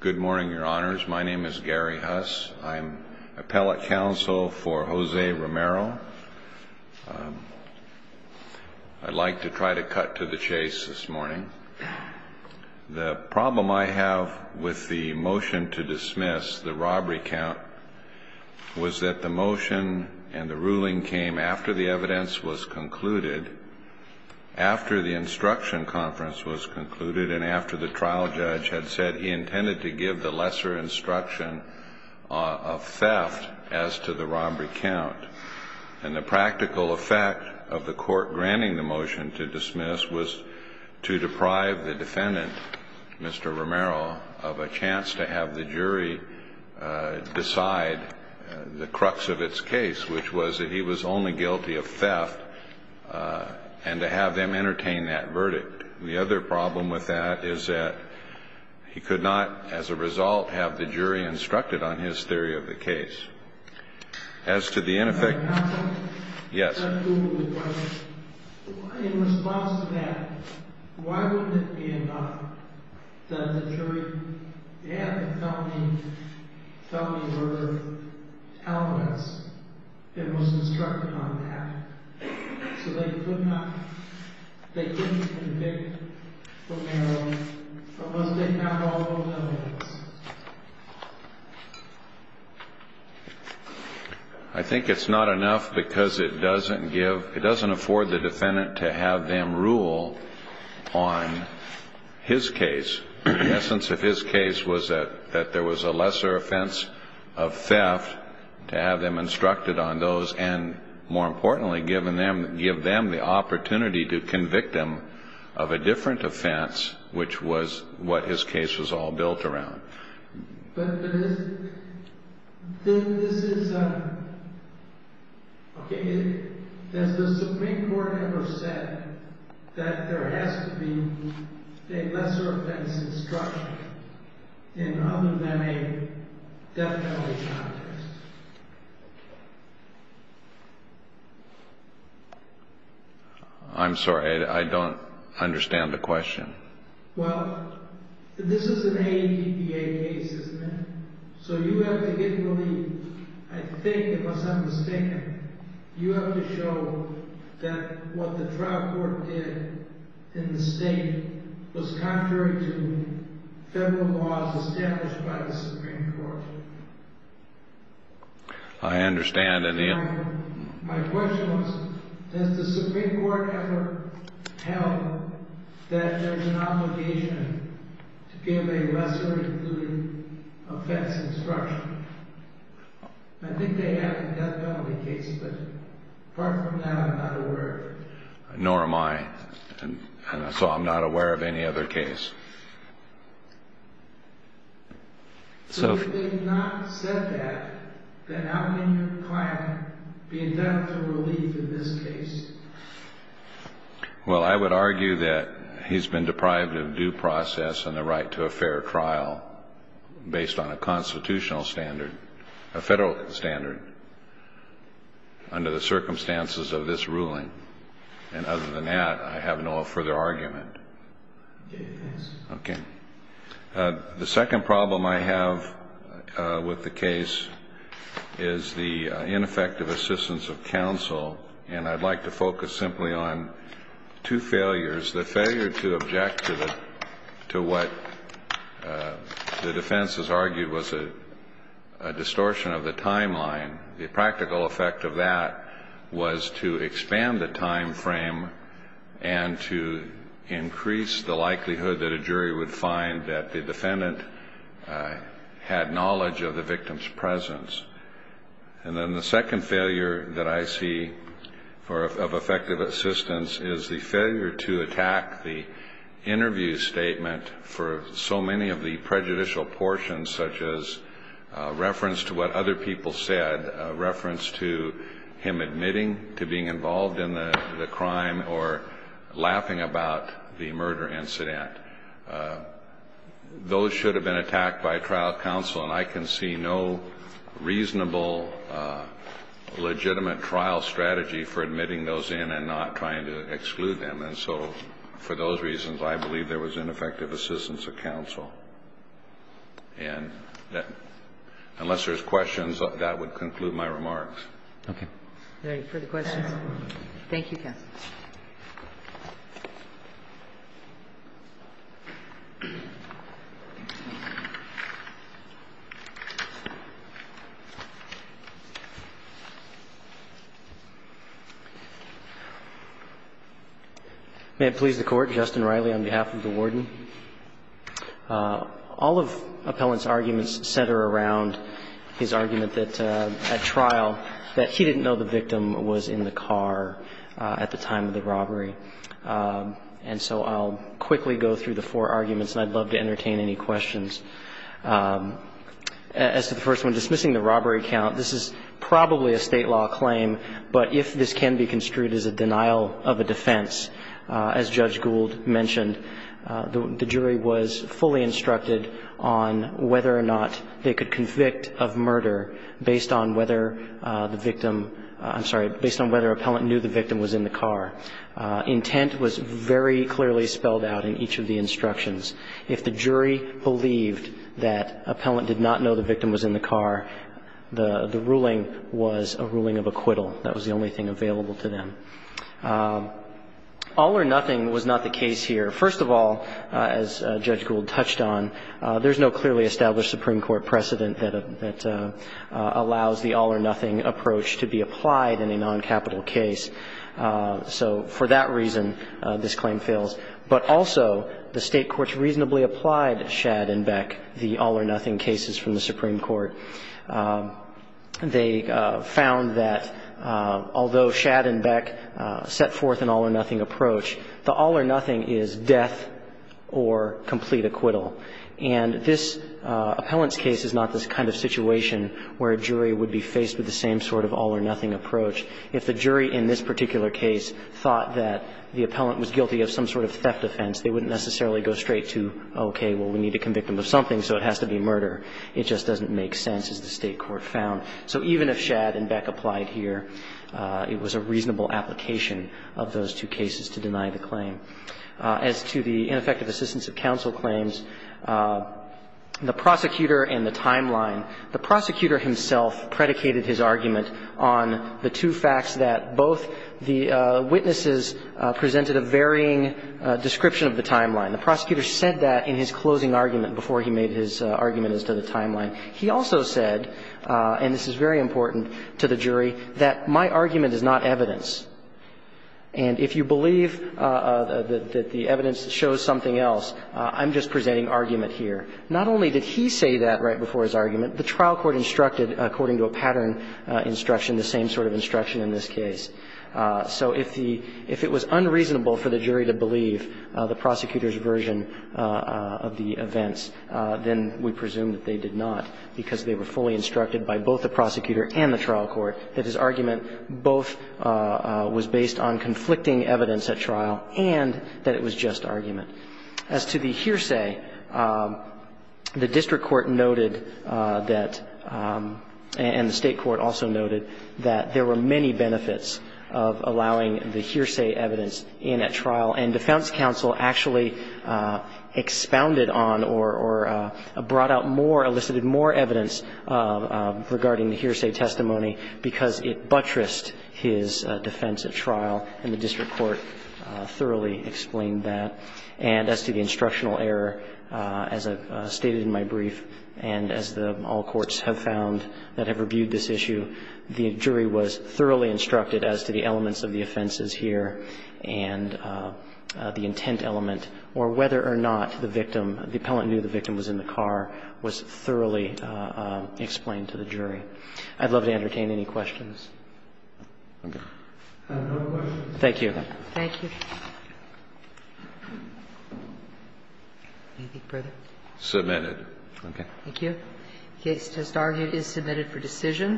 Good morning, your honors. My name is Gary Huss. I'm appellate counsel for Jose Romero. I'd like to try to cut to the chase this morning. The problem I have with the motion to dismiss the robbery count was that the motion and the ruling came after the evidence was concluded, after the instruction conference was concluded, and after the trial judge had said he intended to give the lesser instruction of theft as to the robbery count. And the practical effect of the court granting the motion to dismiss was to deprive the defendant, Mr. Romero, of a chance to have the jury decide the crux of its case, which was that he was only guilty of theft, and to have them entertain that verdict. The other problem with that is that he could not, as a result, have the jury instructed on his theory of the case. In response to that, why wouldn't it be enough that the jury had the felony murder alibis and was instructed on that, so they couldn't convict Romero unless they had all those other things? I think it's not enough because it doesn't give – it doesn't afford the defendant to have them rule on his case. The essence of his case was that there was a lesser offense of theft to have them instructed on those and, more importantly, give them the opportunity to convict him of a different offense, which was what his case was all built around. But this is a – okay, has the Supreme Court ever said that there has to be a lesser offense instructed in other than a death penalty context? I'm sorry, I don't understand the question. Well, this is an ADPA case, isn't it? So you have to get relief. I think, unless I'm mistaken, you have to show that what the trial court did in the state was contrary to federal laws established by the Supreme Court. I understand, and – My question was, has the Supreme Court ever held that there's an obligation to give a lesser-included offense instruction? I think they have in death penalty cases, but apart from that, I'm not aware of it. Nor am I, and so I'm not aware of any other case. So if they have not said that, then how can your client be indebted to relief in this case? Well, I would argue that he's been deprived of due process and the right to a fair trial based on a constitutional standard, a federal standard, under the circumstances of this ruling. And other than that, I have no further argument. Yes. Okay. The second problem I have with the case is the ineffective assistance of counsel, and I'd like to focus simply on two failures. The failure to object to what the defense has argued was a distortion of the timeline. The practical effect of that was to expand the time frame and to increase the likelihood that a jury would find that the defendant had knowledge of the victim's presence. And then the second failure that I see of effective assistance is the failure to attack the interview statement for so many of the prejudicial portions, such as reference to what other people said, reference to him admitting to being involved in the crime, or laughing about the murder incident. Those should have been attacked by trial counsel, and I can see no reasonable, legitimate trial strategy for admitting those in and not trying to exclude them. And so for those reasons, I believe there was ineffective assistance of counsel. And unless there's questions, that would conclude my remarks. Okay. Are there any further questions? Thank you, counsel. May it please the Court. Justin Riley on behalf of the Warden. All of Appellant's arguments center around his argument that at trial that he didn't know the victim was in the car at the time of the murder. And so I'll quickly go through the four arguments, and I'd love to entertain any questions. As to the first one, dismissing the robbery count, this is probably a State law claim, but if this can be construed as a denial of a defense, as Judge Gould mentioned, the jury was fully instructed on whether or not they could convict of murder based on whether the victim I'm sorry, based on whether Appellant knew the victim was in the car. Intent was very clearly spelled out in each of the instructions. If the jury believed that Appellant did not know the victim was in the car, the ruling was a ruling of acquittal. That was the only thing available to them. All or nothing was not the case here. First of all, as Judge Gould touched on, there's no clearly established Supreme Court precedent that allows the all-or-nothing approach to be applied in a noncapital case. So for that reason, this claim fails. But also, the State courts reasonably applied Shad and Beck, the all-or-nothing cases from the Supreme Court. They found that although Shad and Beck set forth an all-or-nothing approach, the all-or-nothing is death or complete acquittal. And this Appellant's case is not this kind of situation where a jury would be faced with the same sort of all-or-nothing approach. If the jury in this particular case thought that the Appellant was guilty of some sort of theft offense, they wouldn't necessarily go straight to, okay, well, we need to convict him of something, so it has to be murder. It just doesn't make sense, as the State court found. So even if Shad and Beck applied here, it was a reasonable application of those two cases to deny the claim. As to the ineffective assistance of counsel claims, the prosecutor and the timeline. The prosecutor himself predicated his argument on the two facts that both the witnesses presented a varying description of the timeline. The prosecutor said that in his closing argument before he made his argument as to the timeline. He also said, and this is very important to the jury, that my argument is not evidence. And if you believe that the evidence shows something else, I'm just presenting argument here. Not only did he say that right before his argument, the trial court instructed, according to a pattern instruction, the same sort of instruction in this case. So if the – if it was unreasonable for the jury to believe the prosecutor's version of the events, then we presume that they did not, because they were fully instructed by both the prosecutor and the trial court that his argument both was based on conflicting evidence at trial and that it was just argument. As to the hearsay, the district court noted that – and the State court also noted that there were many benefits of allowing the hearsay evidence in at trial. And defense counsel actually expounded on or brought out more, elicited more evidence regarding the hearsay testimony because it buttressed his defense at trial. And the district court thoroughly explained that. And as to the instructional error, as I've stated in my brief, and as the – all courts have found that have reviewed this issue, the jury was thoroughly instructed as to the elements of the offenses here and the intent element, or whether or not to the victim, the appellant knew the victim was in the car, was thoroughly explained to the jury. I'd love to entertain any questions. Thank you. Thank you. Anything further? Submitted. Okay. Thank you. The case is submitted for decision.